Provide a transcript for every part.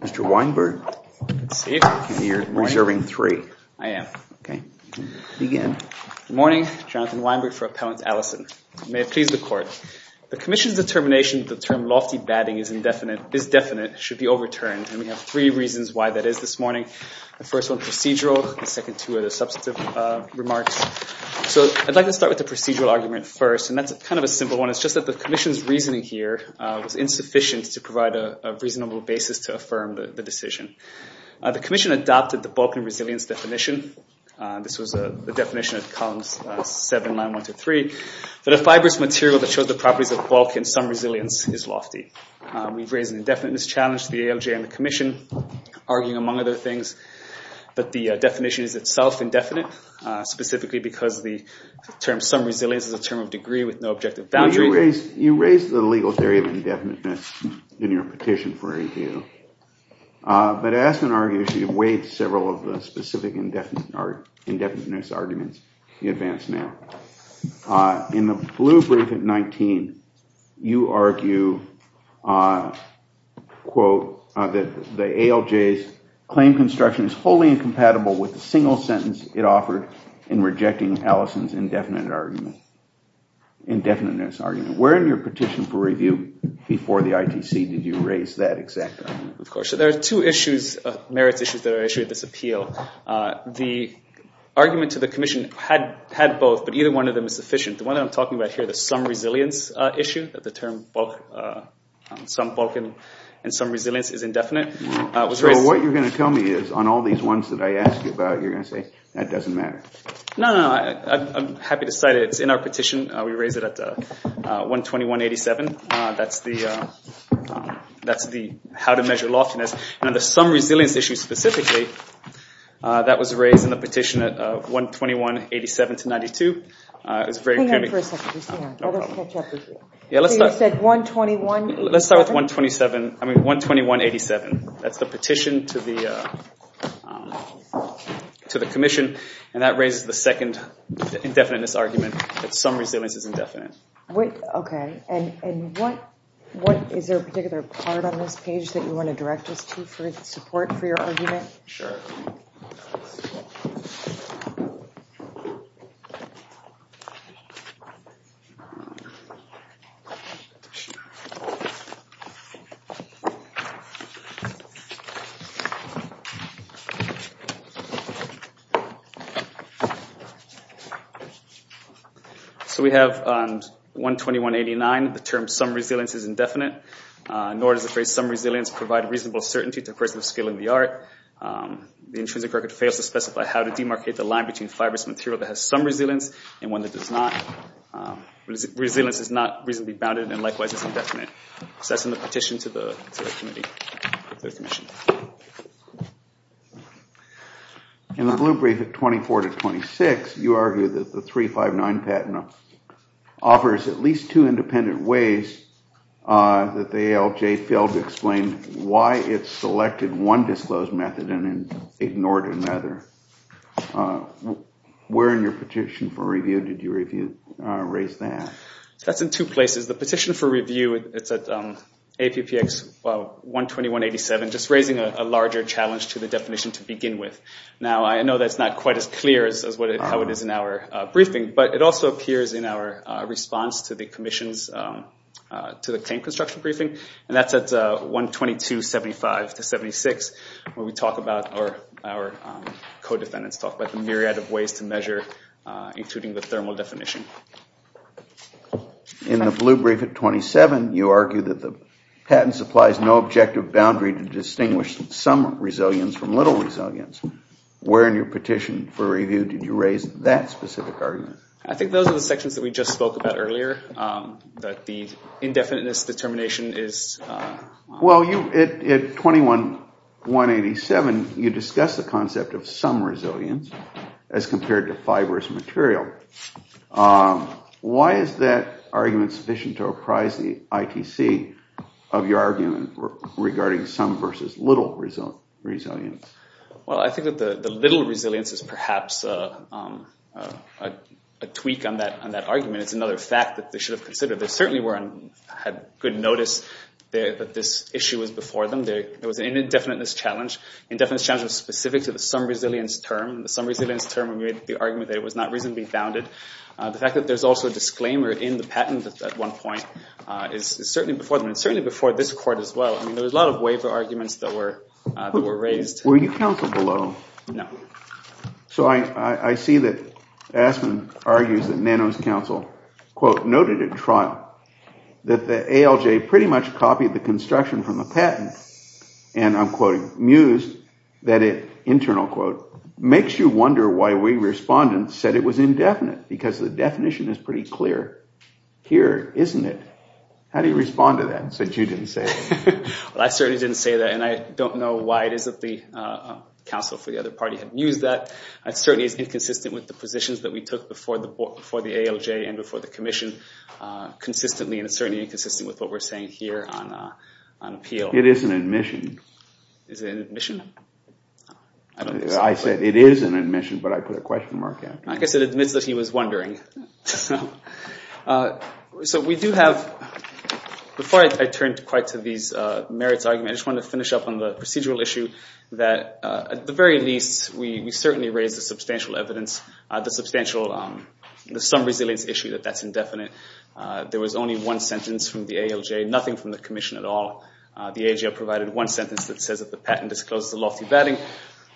Mr. Weinberg, you're reserving three. I am. Good morning, Jonathan Weinberg for Appellant Commission, the term lofty batting is indefinite, is definite, should be overturned. And we have three reasons why that is this morning. The first one procedural, the second two are the substantive remarks. So I'd like to start with the procedural argument first, and that's kind of a simple one. It's just that the Commission's reasoning here was insufficient to provide a reasonable basis to affirm the decision. The Commission adopted the bulk and resilience definition. This was the definition at columns 7, 9, 1 to 3, that a fibrous material that some resilience is lofty. We've raised an indefiniteness challenge to the ALJ and the Commission, arguing among other things, that the definition is itself indefinite, specifically because the term some resilience is a term of degree with no objective value. You raised the legal theory of indefiniteness in your petition for review. But Aspen argues you've weighed several of the specific indefiniteness arguments you advance now. In the blue brief at 19, you argue, quote, that the ALJ's claim construction is wholly incompatible with the single sentence it offered in rejecting Allison's indefiniteness argument. Where in your petition for review before the ITC did you raise that exact argument? There are two merits issues that are issued in this appeal. The argument to the Commission had both, but either one of them is sufficient. The one I'm talking about here, the some resilience issue, that the term some bulk and some resilience is indefinite, was raised... So what you're going to tell me is, on all these ones that I ask you about, you're going to say, that doesn't matter. No, no. I'm happy to cite it. It's in our petition. We raised it at 121.87. That's the how to measure loftiness. Now, the some resilience issue specifically, that was raised in the petition at 121.87 to 92. It was very... Hang on for a second. Just hang on. Let us catch up with you. Yeah, let's start... So you said 121.87? Let's start with 127. I mean, 121.87. That's the petition to the Commission, and that raises the second indefiniteness argument that some resilience is indefinite. Okay. And what... Is there a particular part on this page that you want to direct us to for support for your argument? Sure. So we have on 121.89, the term some resilience is indefinite. Nor does the phrase some resilience provide reasonable certainty to a person of skill in the art. The intrinsic record fails to specify how to demarcate the line between fibrous material that has some resilience and one that does not. Resilience is not reasonably bounded, and likewise is indefinite. So that's in the petition to the committee, to the Commission. In the blue brief at 24 to 26, you argue that the 359 patent offers at least two independent ways that the ALJ failed to explain why it selected one disclosed method and ignored another. Where in your petition for review did you raise that? That's in two places. The petition for review, it's at APPX 121.87, just raising a larger challenge to the definition to begin with. Now, I know that's not quite as clear as how it is in our briefing, but it also appears in our response to the Commission's, to the claim construction briefing, and that's at 122.75 to 76, where we talk about, or our co-defendants talk about the myriad of ways to measure, including the thermal definition. In the blue brief at 27, you argue that the patent supplies no objective boundary to distinguish some resilience from little resilience. Where in your petition for review did you raise that specific argument? I think those are the sections that we just spoke about earlier, that the indefiniteness determination is... Well, at 21.187, you discuss the concept of some resilience as compared to fibrous material. Why is that argument sufficient to apprise the ITC of your argument regarding some little resilience versus little resilience? Well, I think that the little resilience is perhaps a tweak on that argument. It's another fact that they should have considered. They certainly had good notice that this issue was before them. There was an indefiniteness challenge. Indefiniteness challenge was specific to the some resilience term. The some resilience term, when we made the argument that it was not reasonably bounded. The fact that there's also a disclaimer in the patent at one point is certainly before them, and certainly before this as well. There was a lot of waiver arguments that were raised. Were you counsel below? No. So I see that Aspen argues that Nano's counsel, quote, noted at trial that the ALJ pretty much copied the construction from the patent. And I'm quoting, mused that it, internal quote, makes you wonder why we respondents said it was indefinite, because the definition is pretty clear here, isn't it? How do you respond to that, since you didn't say that? Well, I certainly didn't say that. And I don't know why it is that the counsel for the other party had mused that. It certainly is inconsistent with the positions that we took before the ALJ and before the commission consistently. And it's certainly inconsistent with what we're saying here on appeal. It is an admission. Is it an admission? I said it is an admission, but I put a question mark after. I guess it admits that he was wondering. So we do have, before I turn quite to these merits arguments, I just wanted to finish up on the procedural issue that, at the very least, we certainly raised the substantial evidence, the substantial, the some resilience issue that that's indefinite. There was only one sentence from the ALJ, nothing from the commission at all. The ALJ provided one sentence that says that the patent discloses a lofty batting,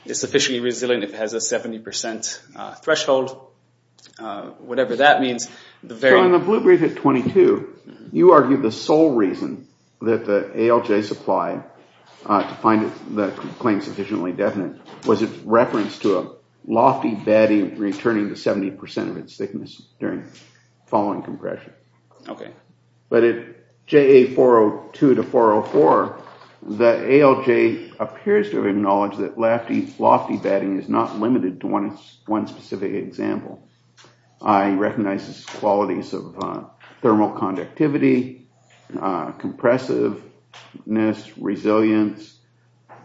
is sufficiently resilient, if it has a 70% threshold, whatever that means. On the blue brief at 22, you argued the sole reason that the ALJ supplied to find the claim sufficiently definite was its reference to a lofty batting returning to 70% of its thickness during following compression. But at JA 402 to 404, the ALJ appears to have acknowledged that lofty batting is not limited to one specific example. I recognize its qualities of thermal conductivity, compressiveness, resilience.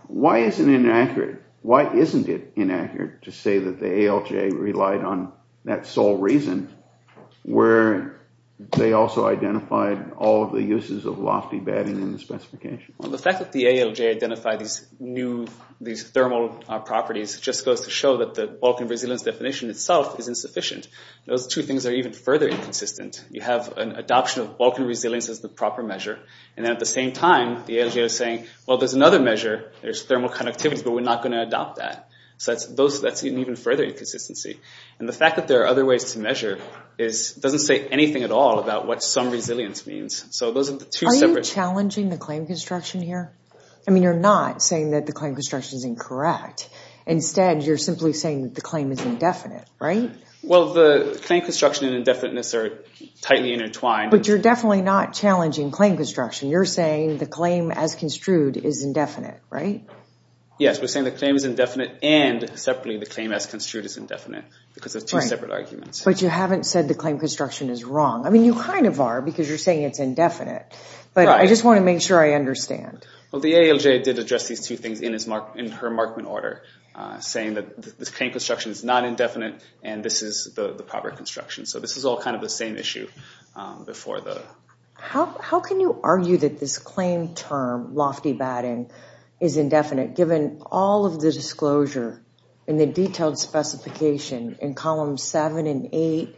Why is it inaccurate? Why isn't it inaccurate to say that the ALJ relied on that sole reason where they also identified all of the uses of lofty batting in the specification? Well, the fact that the ALJ identified these new, these thermal properties just goes to show that the bulk and resilience definition itself is insufficient. Those two things are even further inconsistent. You have an adoption of bulk and resilience as the proper measure. And then at the same time, the ALJ is saying, well, there's another measure, there's thermal conductivities, but we're not going to adopt that. So that's an even further inconsistency. And the fact that there are other ways to measure doesn't say anything at all about what some resilience means. So those are the two separate... Are you challenging the claim construction here? I mean, you're not saying that the claim construction is incorrect. Instead, you're simply saying that the claim is indefinite, right? Well, the claim construction and indefiniteness are tightly intertwined. But you're definitely not challenging claim construction. You're saying the claim as construed is indefinite, right? Yes, we're saying the claim is indefinite and separately the claim as construed is indefinite because of two separate arguments. But you haven't said the claim construction is wrong. I mean, you kind of are because you're saying it's indefinite. But I just want to make sure I understand. Well, the ALJ did address these two things in her markment order, saying that the claim construction is not indefinite and this is the proper construction. So this is all kind of the same issue before the... How can you argue that this claim term, lofty batting, is indefinite given all of the disclosure and the detailed specification in 8,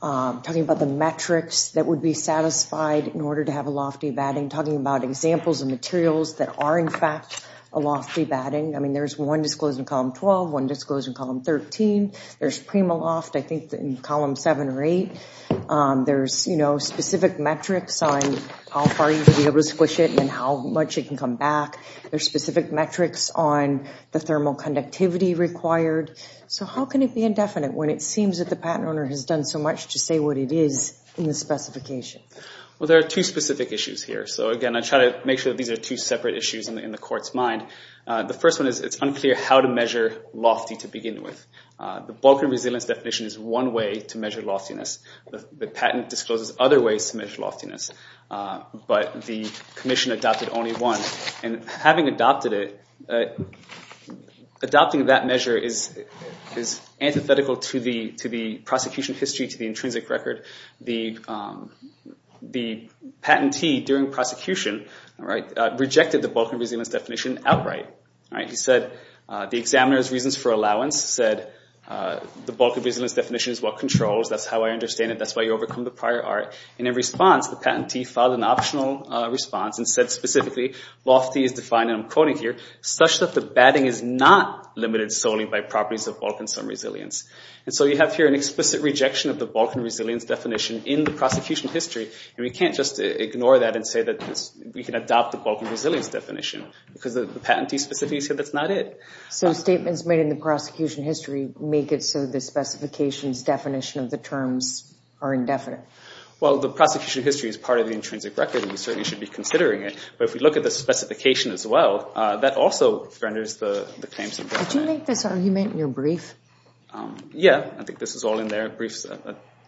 talking about the metrics that would be satisfied in order to have a lofty batting, talking about examples and materials that are in fact a lofty batting. I mean, there's one disclosed in column 12, one disclosed in column 13. There's prima loft, I think, in column 7 or 8. There's specific metrics on how far you should be able to squish it and how much it can come back. There's specific metrics on the thermal conductivity required. So how can it be that the patent owner has done so much to say what it is in the specification? Well, there are two specific issues here. So again, I try to make sure that these are two separate issues in the court's mind. The first one is it's unclear how to measure lofty to begin with. The bulk and resilience definition is one way to measure loftiness. The patent discloses other ways to measure loftiness, but the commission adopted only one. And having adopted it, but adopting that measure is antithetical to the prosecution history, to the intrinsic record. The patentee during prosecution rejected the bulk and resilience definition outright. He said, the examiner's reasons for allowance said, the bulk and resilience definition is what controls, that's how I understand it, that's how you overcome the prior art. And in response, the patentee filed an optional response and said specifically, lofty is defined, such that the batting is not limited solely by properties of bulk and some resilience. And so you have here an explicit rejection of the bulk and resilience definition in the prosecution history, and we can't just ignore that and say that we can adopt the bulk and resilience definition because the patentee specifically said that's not it. So statements made in the prosecution history make it so the specification's definition of the terms are indefinite? Well, the prosecution history is part of the intrinsic record, we certainly should be considering it. But if we look at the specification as well, that also renders the claims. Did you make this argument in your brief? Yeah, I think this is all in their briefs,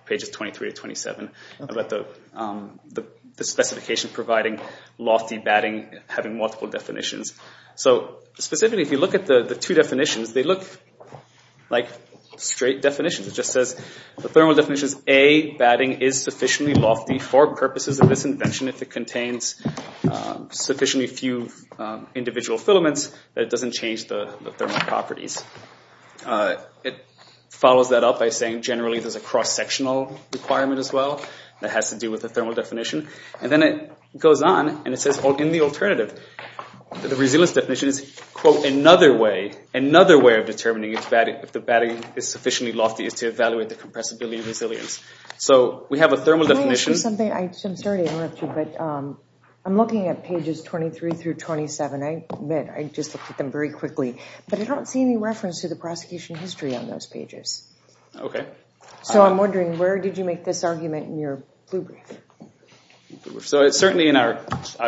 pages 23 to 27, about the specification providing lofty batting, having multiple definitions. So specifically, if you look at the two definitions, they look like straight definitions. It just says, the thermal definition is A, batting is contains sufficiently few individual filaments that it doesn't change the thermal properties. It follows that up by saying generally there's a cross-sectional requirement as well that has to do with the thermal definition. And then it goes on and it says in the alternative, the resilience definition is, quote, another way, another way of determining if the batting is sufficiently lofty is to evaluate the compressibility and resilience. So we have a thermal definition. I'm sorry to interrupt you, but I'm looking at pages 23 through 27. I admit I just looked at them very quickly, but I don't see any reference to the prosecution history on those pages. Okay. So I'm wondering, where did you make this argument in your blue brief? So it's certainly in our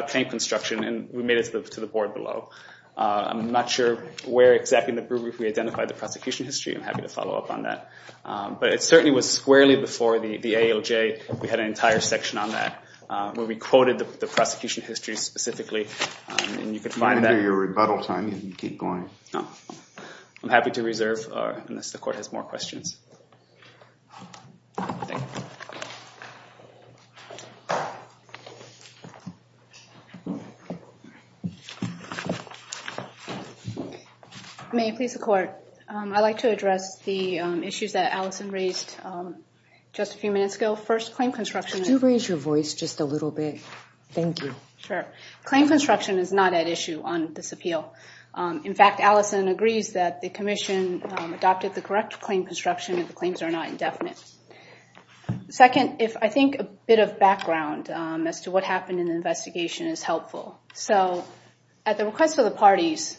claim construction and we made it to the board below. I'm not sure where exactly in the blue brief we identified the prosecution history. I'm happy to follow up on that. But it certainly was squarely before the ALJ. We had an entire section on that where we quoted the prosecution history specifically, and you can find that. You're going to do your rebuttal time if you keep going. No. I'm happy to reserve unless the court has more questions. Thank you. May I please the court? I'd like to address the issues that Allison raised just a few minutes ago. First, claim construction. Could you raise your voice just a little bit? Thank you. Sure. Claim construction is not at issue on this appeal. In fact, Allison agrees that the commission adopted the correct claim construction and the claims are not indefinite. Second, I think a bit of background as to what happened in the investigation is helpful. So at the request of the parties,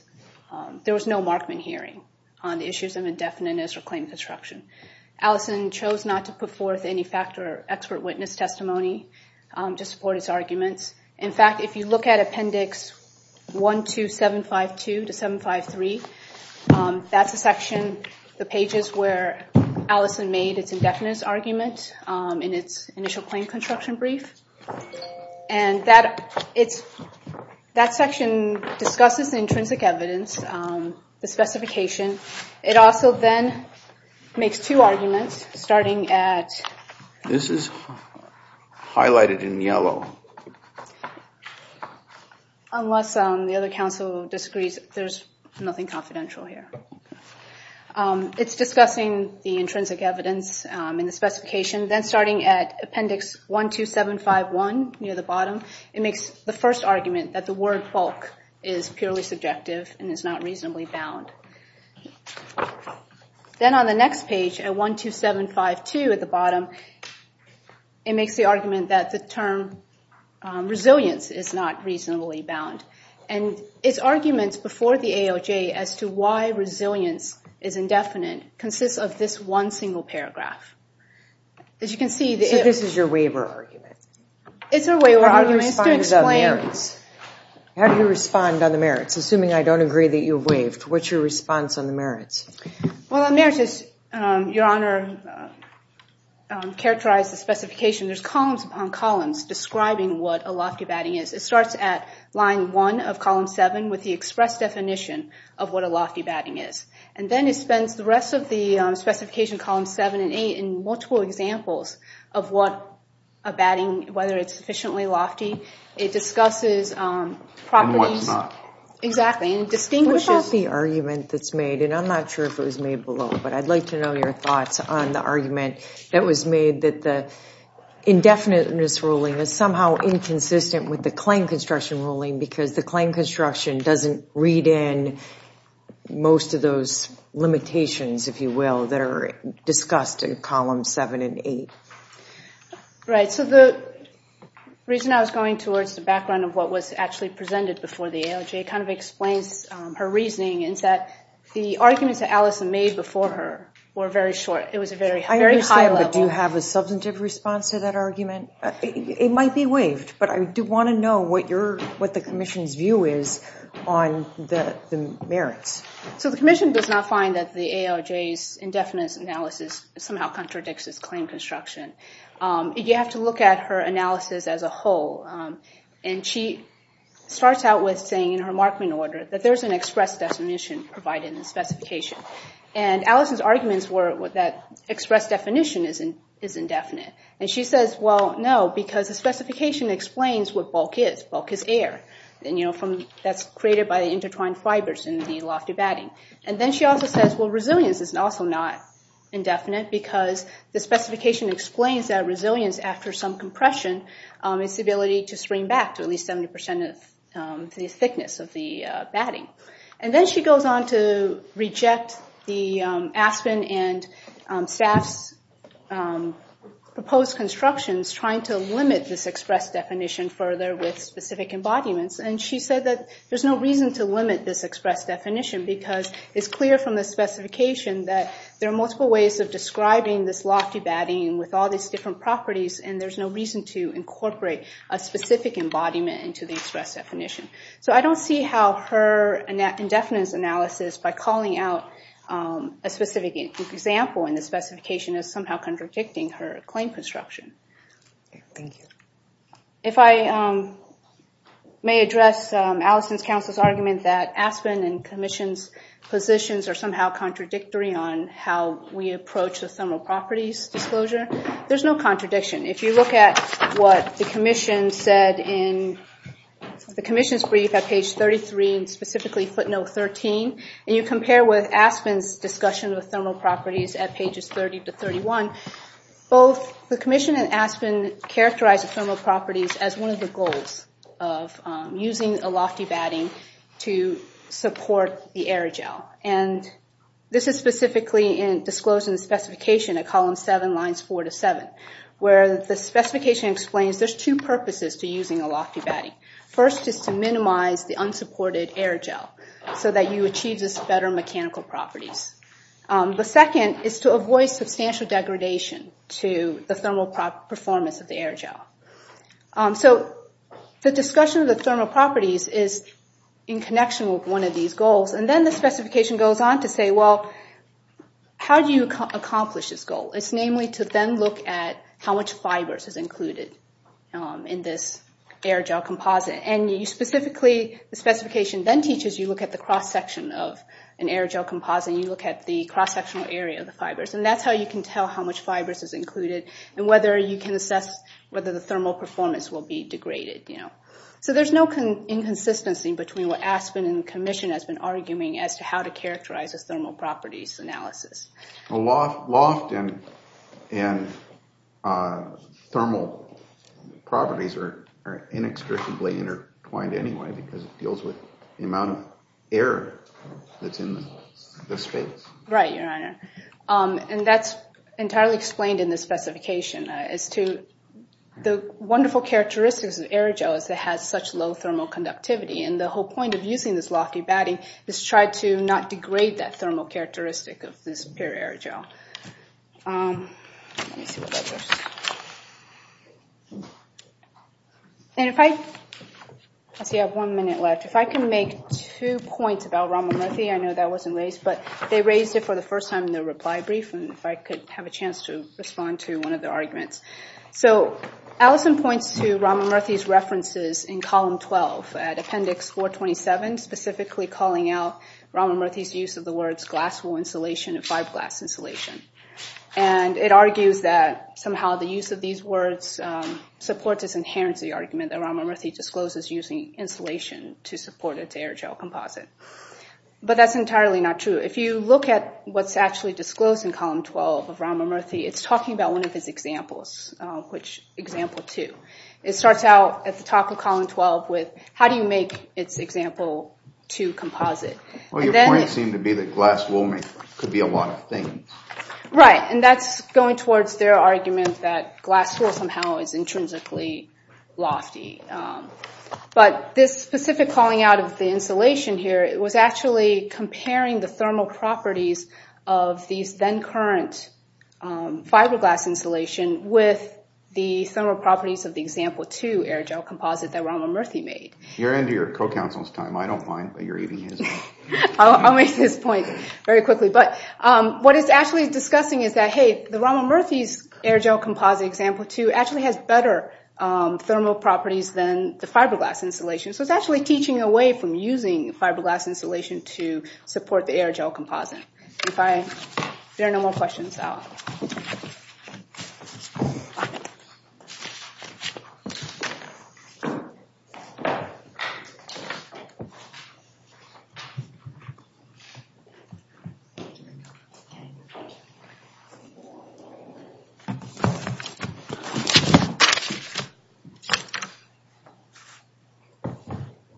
there was no Markman hearing on the issues of indefiniteness or claim construction. Allison chose not to put forth any fact or expert witness testimony to support his arguments. In fact, if you look at Appendix 12752 to 753, that's the section, the pages where Allison made its indefinite argument in its initial claim construction brief. That section discusses the intrinsic evidence, the specification. It also then makes two arguments, starting at... This is highlighted in yellow. Unless the other counsel disagrees, there's nothing confidential here. It's discussing the intrinsic evidence and the specification. Then starting at Appendix 12751 near the bottom, it makes the first argument that the word bulk is purely subjective and is not reasonably bound. Then on the next page, at 12752 at the bottom, it makes the argument that the term resilience is not reasonably bound. And its arguments before the AOJ as to why resilience is indefinite consists of this one single paragraph. As you can see... So this is your waiver argument? It's a waiver argument. How do you respond on the merits? Assuming I don't agree that you waived, what's your response? The merits, Your Honor, characterize the specification. There's columns upon columns describing what a lofty batting is. It starts at line 1 of column 7 with the express definition of what a lofty batting is. And then it spends the rest of the specification, column 7 and 8, in multiple examples of what a batting, whether it's sufficiently lofty. It discusses properties... And what's not. Exactly. And it distinguishes... And I'm not sure if it was made below, but I'd like to know your thoughts on the argument that was made that the indefiniteness ruling is somehow inconsistent with the claim construction ruling because the claim construction doesn't read in most of those limitations, if you will, that are discussed in column 7 and 8. Right. So the reason I was going towards the background of what was actually presented before the ALJ kind of explains her reasoning is that the arguments that Allison made before her were very short. It was a very high level. I understand, but do you have a substantive response to that argument? It might be waived, but I do want to know what the Commission's view is on the merits. So the Commission does not find that the ALJ's indefiniteness analysis somehow contradicts its whole. And she starts out with saying in her Markman order that there's an express definition provided in the specification. And Allison's arguments were that express definition is indefinite. And she says, well, no, because the specification explains what bulk is. Bulk is air. And that's created by the intertwined fibers in the lofty batting. And then she also says, well, resilience is also not indefinite because the specification explains that resilience after some compression is the ability to spring back to at least 70% the thickness of the batting. And then she goes on to reject the Aspen and staff's proposed constructions trying to limit this express definition further with specific embodiments. And she said that there's no reason to limit this express definition because it's clear from the specification that there are multiple ways of describing this lofty batting with all these different properties. And there's no reason to incorporate a specific embodiment into the express definition. So I don't see how her indefiniteness analysis by calling out a specific example in the specification is somehow contradicting her claim construction. If I may address Allison's counsel's argument that Aspen and Commission's positions are somehow contradictory on how we approach the thermal properties disclosure, there's no contradiction. If you look at what the Commission's brief at page 33, and specifically footnote 13, and you compare with Aspen's discussion of thermal properties at pages 30 to 31, both the Commission and Aspen characterize the thermal properties as one of the goals of using a lofty batting to support the air gel. And this is specifically disclosed in the specification at column 7, lines 4 to 7, where the specification explains there's two purposes to using a lofty batting. First is to minimize the unsupported air gel so that you achieve this better mechanical properties. The second is to avoid substantial degradation to the thermal performance of the air gel. So the discussion of the thermal properties is in connection with one of these goals. And then the specification goes on to say, well, how do you accomplish this goal? It's namely to then look at how much fibers is included in this air gel composite. And you specifically, the specification then teaches you look at the cross-section of an air gel composite. You look at the cross-sectional area of the fibers. And that's how you can tell how much you can assess whether the thermal performance will be degraded. So there's no inconsistency between what Aspen and the Commission has been arguing as to how to characterize this thermal properties analysis. A loft and thermal properties are inextricably intertwined anyway because it deals with the amount of air that's in the space. Right, your honor. And that's entirely explained in the specification as to the wonderful characteristics of air gel as it has such low thermal conductivity. And the whole point of using this lofty batting is to try to not degrade that thermal characteristic of this pure air gel. Let me see what that says. And if I, let's see I have one minute left. If I can make two points about Ramamurthy. I know that wasn't raised, but they raised it for the first time in their reply brief. And if I could have a chance to respond to one of their arguments. So Allison points to Ramamurthy's references in column 12 at appendix 427, specifically calling out Ramamurthy's use of the words glass wool insulation and fiberglass insulation. And it argues that somehow the use of these words supports, inherits the argument that Ramamurthy discloses using insulation to support its air gel composite. But that's entirely not true. If you look at what's actually disclosed in column 12 of Ramamurthy, it's talking about one of his examples, which example two. It starts out at the top of column 12 with how do you make its example two composite. Well your point seemed to be that glass wool could be a lot of things. Right, and that's going towards their argument that glass wool somehow is intrinsically lofty. But this specific calling out of the insulation here, it was actually comparing the thermal properties of these then current fiberglass insulation with the thermal properties of the example two air gel composite that Ramamurthy made. You're into your co-counsel's time. I don't mind. I'll make this point very quickly. But what it's actually discussing is that, hey, the Ramamurthy's air gel composite example two actually has better thermal properties than the fiberglass insulation. So it's actually teaching away from using fiberglass insulation to support the air gel composite. If there are no more questions, I'll...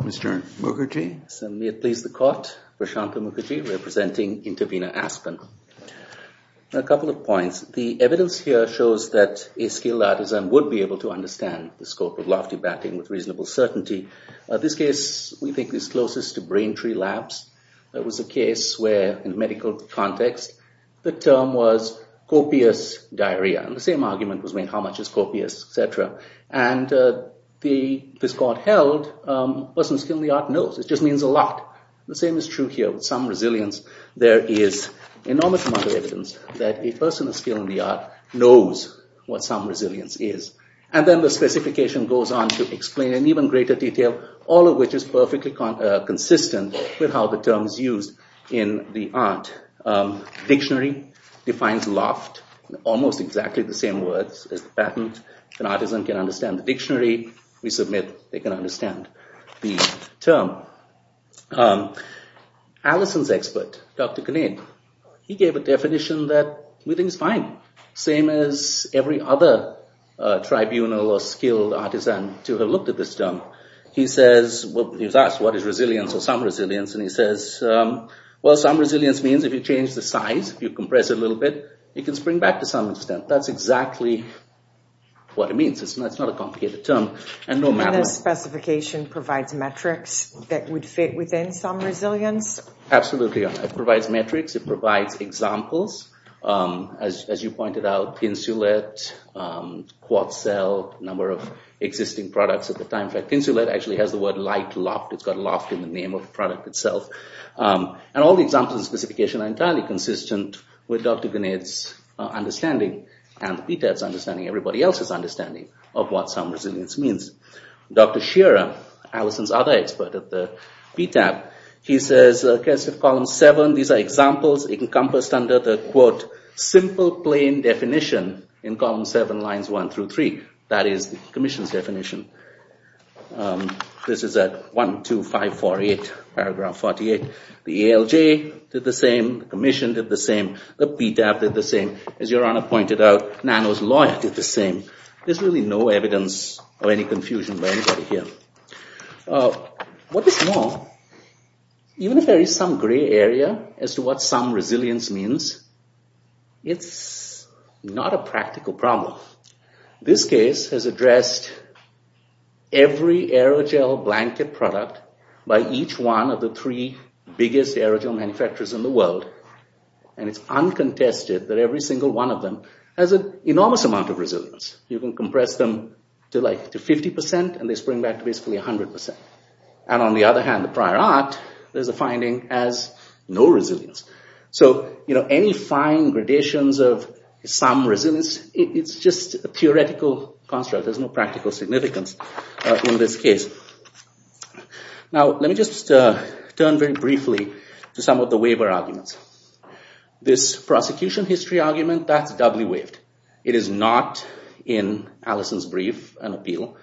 Mr. Mukherjee. May it please the court, Prashanth Mukherjee representing Intervena Aspen. A couple of points. The evidence here shows that a skilled artisan would be able to understand the scope of lofty batting with reasonable certainty. This case we think is closest to Braintree Labs. That was a case where in medical context the term was copious diarrhea. The same argument was made how much is copious, etc. And the discord held, a person of skill in the art knows. It just means a lot. The same is true here with some resilience. There is an enormous amount of evidence that a person of skill in the art knows what some resilience is. And then the specification goes on to explain in even greater detail, all of which is perfectly consistent with how the term is used in the art. Dictionary defines loft in almost exactly the same words as the patent. An artisan can understand the dictionary. We submit they can understand the term. Allison's expert, Dr. Kinnead, he gave a definition that we think is fine. Same as every other tribunal or skilled artisan to have looked at this term. He says, he was asked what is resilience or some resilience. And he says, well some resilience means if you change the size, if you compress it a little bit, you can spring back to some extent. That's exactly what it means. It's not a complicated term. And the specification provides metrics that would fit within some resilience? Absolutely. It provides metrics. It provides examples. As you pointed out, insulet, quad cell, number of existing products at the time. Insulet actually has the word light loft. It's got loft in the name of the product itself. And all the examples and specifications are entirely consistent with Dr. Kinnead's understanding and the PTAB's understanding, everybody else's understanding of what some resilience means. Dr. Shearer, Allison's other expert at the PTAB, he says, column seven, these are examples encompassed under the quote, simple plain definition in column seven lines one through three. That is the commission's definition. This is at one, two, five, four, eight, paragraph 48. The ALJ did the same. The commission did the same. The PTAB did the same. As your honor pointed out, Nano's lawyer did the same. There's really no evidence of any confusion by anybody here. What is more, even if there is some gray area as to what some resilience means, it's not a practical problem. This case has addressed every aerogel blanket product by each one of the three biggest aerogel manufacturers in the world. And it's uncontested that every single one of them has an enormous amount of resilience. You can compress them to like 50% and they spring back to basically 100%. And on the other hand, prior art, there's a finding as no resilience. Any fine gradations of some resilience, it's just a theoretical construct. There's no practical significance in this case. Now, let me just turn very briefly to some of the waiver arguments. This prosecution history argument, that's doubly waived. It is not in Allison's brief, an appeal.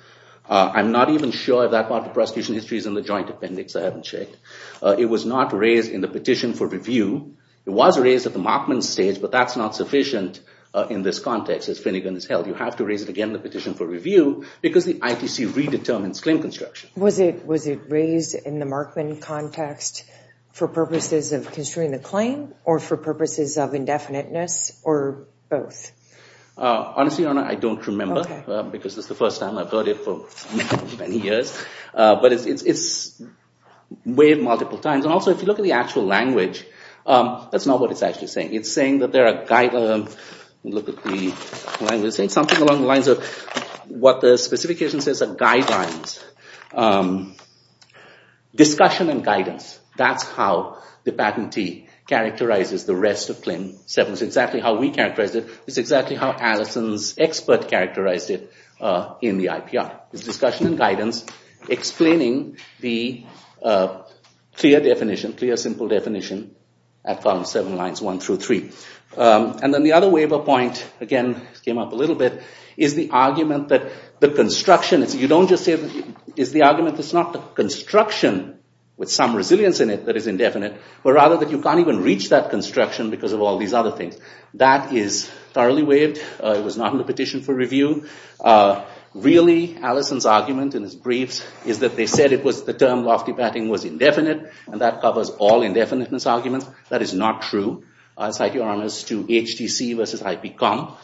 I'm not even sure that part of the prosecution history is in the joint appendix. I haven't checked. It was not raised in the petition for review. It was raised at the Markman stage, but that's not sufficient in this context as Finnegan has held. You have to raise it again in the petition for review because the ITC redetermines claim construction. Was it raised in the Markman context for purposes of construing the claim or for purposes of indefiniteness or both? Honestly, your honor, I don't remember because this is the first time I've heard it for many years, but it's waived multiple times. Also, if you look at the actual language, that's not what it's actually saying. It's saying that there are guidelines. Look at the language. It's saying something along the lines of what the specification says are guidelines. Discussion and guidance, that's how the patentee characterizes the rest of claim seven. It's exactly how we characterize it. It's exactly how Allison's expert characterized it in the IPR. It's discussion and guidance explaining the clear definition, clear, simple definition at column seven lines one through three. Then the other waiver point, again, came up a little bit, is the argument that the construction, you don't just say, is the argument that it's not the construction with some resilience in it that is indefinite, but rather that you can't even reach that construction because of all these other things. That is thoroughly waived. It was not in the petition for review. Really, Allison's argument in his briefs is that they said the term lofty batting was indefinite, and that covers all indefiniteness arguments. That is not true. I'll cite your honors to HTC versus IPCOM,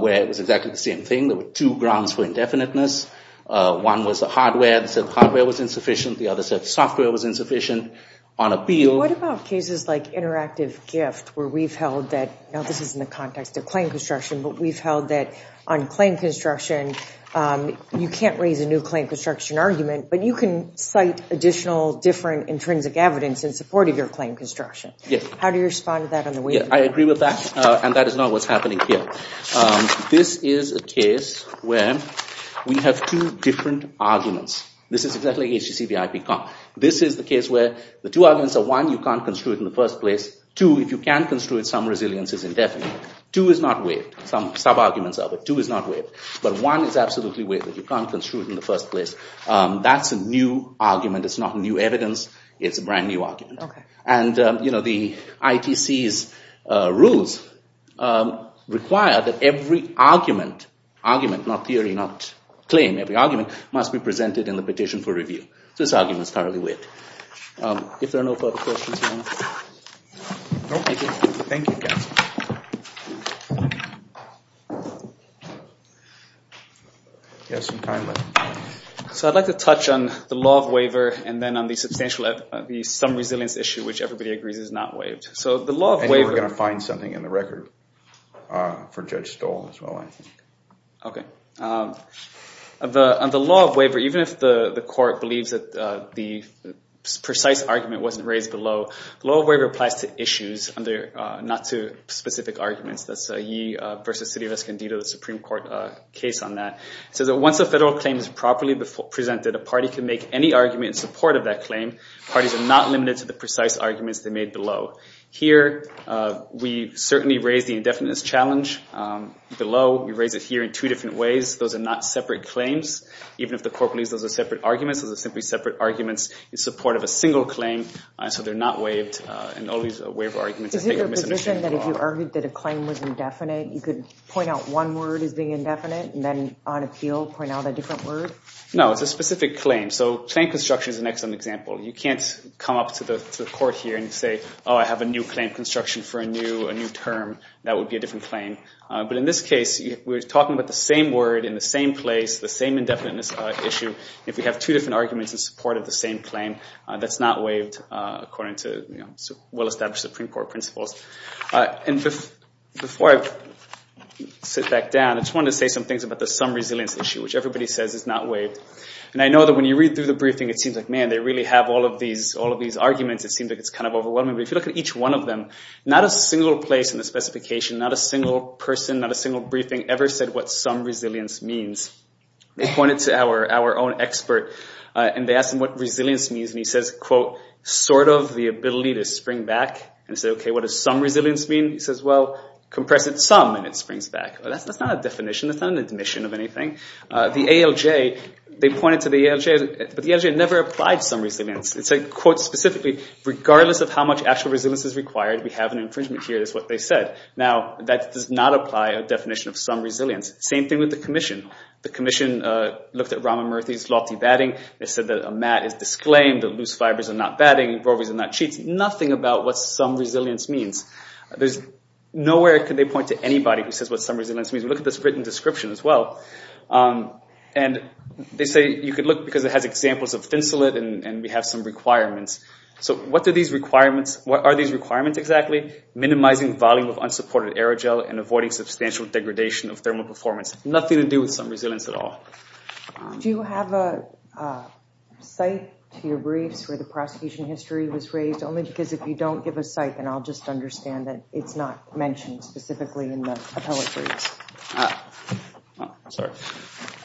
where it was exactly the same thing. There were two grounds for indefiniteness. One was the hardware. They said hardware was insufficient. The other said software was insufficient on appeal. What about cases like interactive gift, where we've held that, now this is in the context of claim construction, but we've held that on claim construction, you can't raise a new claim construction argument, but you can cite additional different intrinsic evidence in support of your claim construction. How do you respond to that on the waiver? I agree with that, and that is not what's happening here. This is a case where we have two different arguments. This is exactly HTC versus IPCOM. This is the case where the two arguments are, one, you can't construe it in the first place. Two, if you can construe it, some resilience is indefinite. Two is not waived. Some sub-arguments are, but two is not waived. But one is absolutely waived, that you can't construe it in the first place. That's a new argument. It's not new evidence. It's a brand new argument. The ITC's rules require that every argument, argument not theory, not claim, every argument must be presented in the petition for review. This argument is thoroughly waived. If there are no further questions, you want to? No, thank you, counsel. You have some time left. So I'd like to touch on the law of waiver and then on the substantial, the some resilience issue, which everybody agrees is not waived. I think we're going to find something in the record for Judge Stoll as well, I think. On the law of waiver, even if the court believes that the precise argument wasn't raised below, the law of waiver applies to issues, not to specific arguments. That's Ye versus City of Escondido, the Supreme Court case on that. It says that once a federal claim is properly presented, a party can make any argument in support of that claim. Parties are not limited to the precise arguments they made below. Here, we certainly raise the indefiniteness challenge. Below, we raise it here in two ways. Those are not separate claims. Even if the court believes those are separate arguments, those are simply separate arguments in support of a single claim, so they're not waived. Is it your position that if you argued that a claim was indefinite, you could point out one word as being indefinite and then on appeal point out a different word? No, it's a specific claim. So claim construction is an excellent example. You can't come up to the court here and say, oh, I have a new claim construction for a new term. That would be a different claim. But in this case, we're talking about the same word in the same place, the same indefiniteness issue. If we have two different arguments in support of the same claim, that's not waived according to well-established Supreme Court principles. And before I sit back down, I just wanted to say some things about the sum resilience issue, which everybody says is not waived. And I know that when you read through the briefing, it seems like, man, they really have all of these arguments. It seems like it's kind of overwhelming. But if you look at each one of them, not a single place in the specification, not a single person, not a single briefing ever said what sum resilience means. They pointed to our own expert, and they asked him what resilience means. And he says, quote, sort of the ability to spring back. And I said, okay, what does sum resilience mean? He says, well, compress it some, and it springs back. That's not a definition. That's not an admission of anything. The ALJ, they pointed to the ALJ, but the ALJ never applied sum resilience. It said, quote, specifically, regardless of how much actual resilience is required, we have an infringement here, is what they said. Now, that does not apply a definition of sum resilience. Same thing with the commission. The commission looked at Rahman Murthy's lofty batting. They said that a mat is disclaimed, that loose fibers are not batting, rovers are not cheats. Nothing about what sum resilience means. There's nowhere could they point to anybody who says what sum resilience means. Look at this written description as well. And they say you could look, because it has examples of thinsulate, and we have some requirements, exactly, minimizing volume of unsupported aerogel and avoiding substantial degradation of thermal performance. Nothing to do with sum resilience at all. Do you have a site to your briefs where the prosecution history was raised? Only because if you don't give a site, then I'll just understand that it's not mentioned specifically in the appellate briefs. Sorry.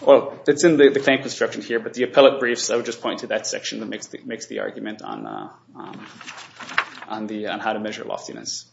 Well, it's in the claim construction here, but the appellate briefs, I would just point to that section that makes the argument on how to measure loftiness.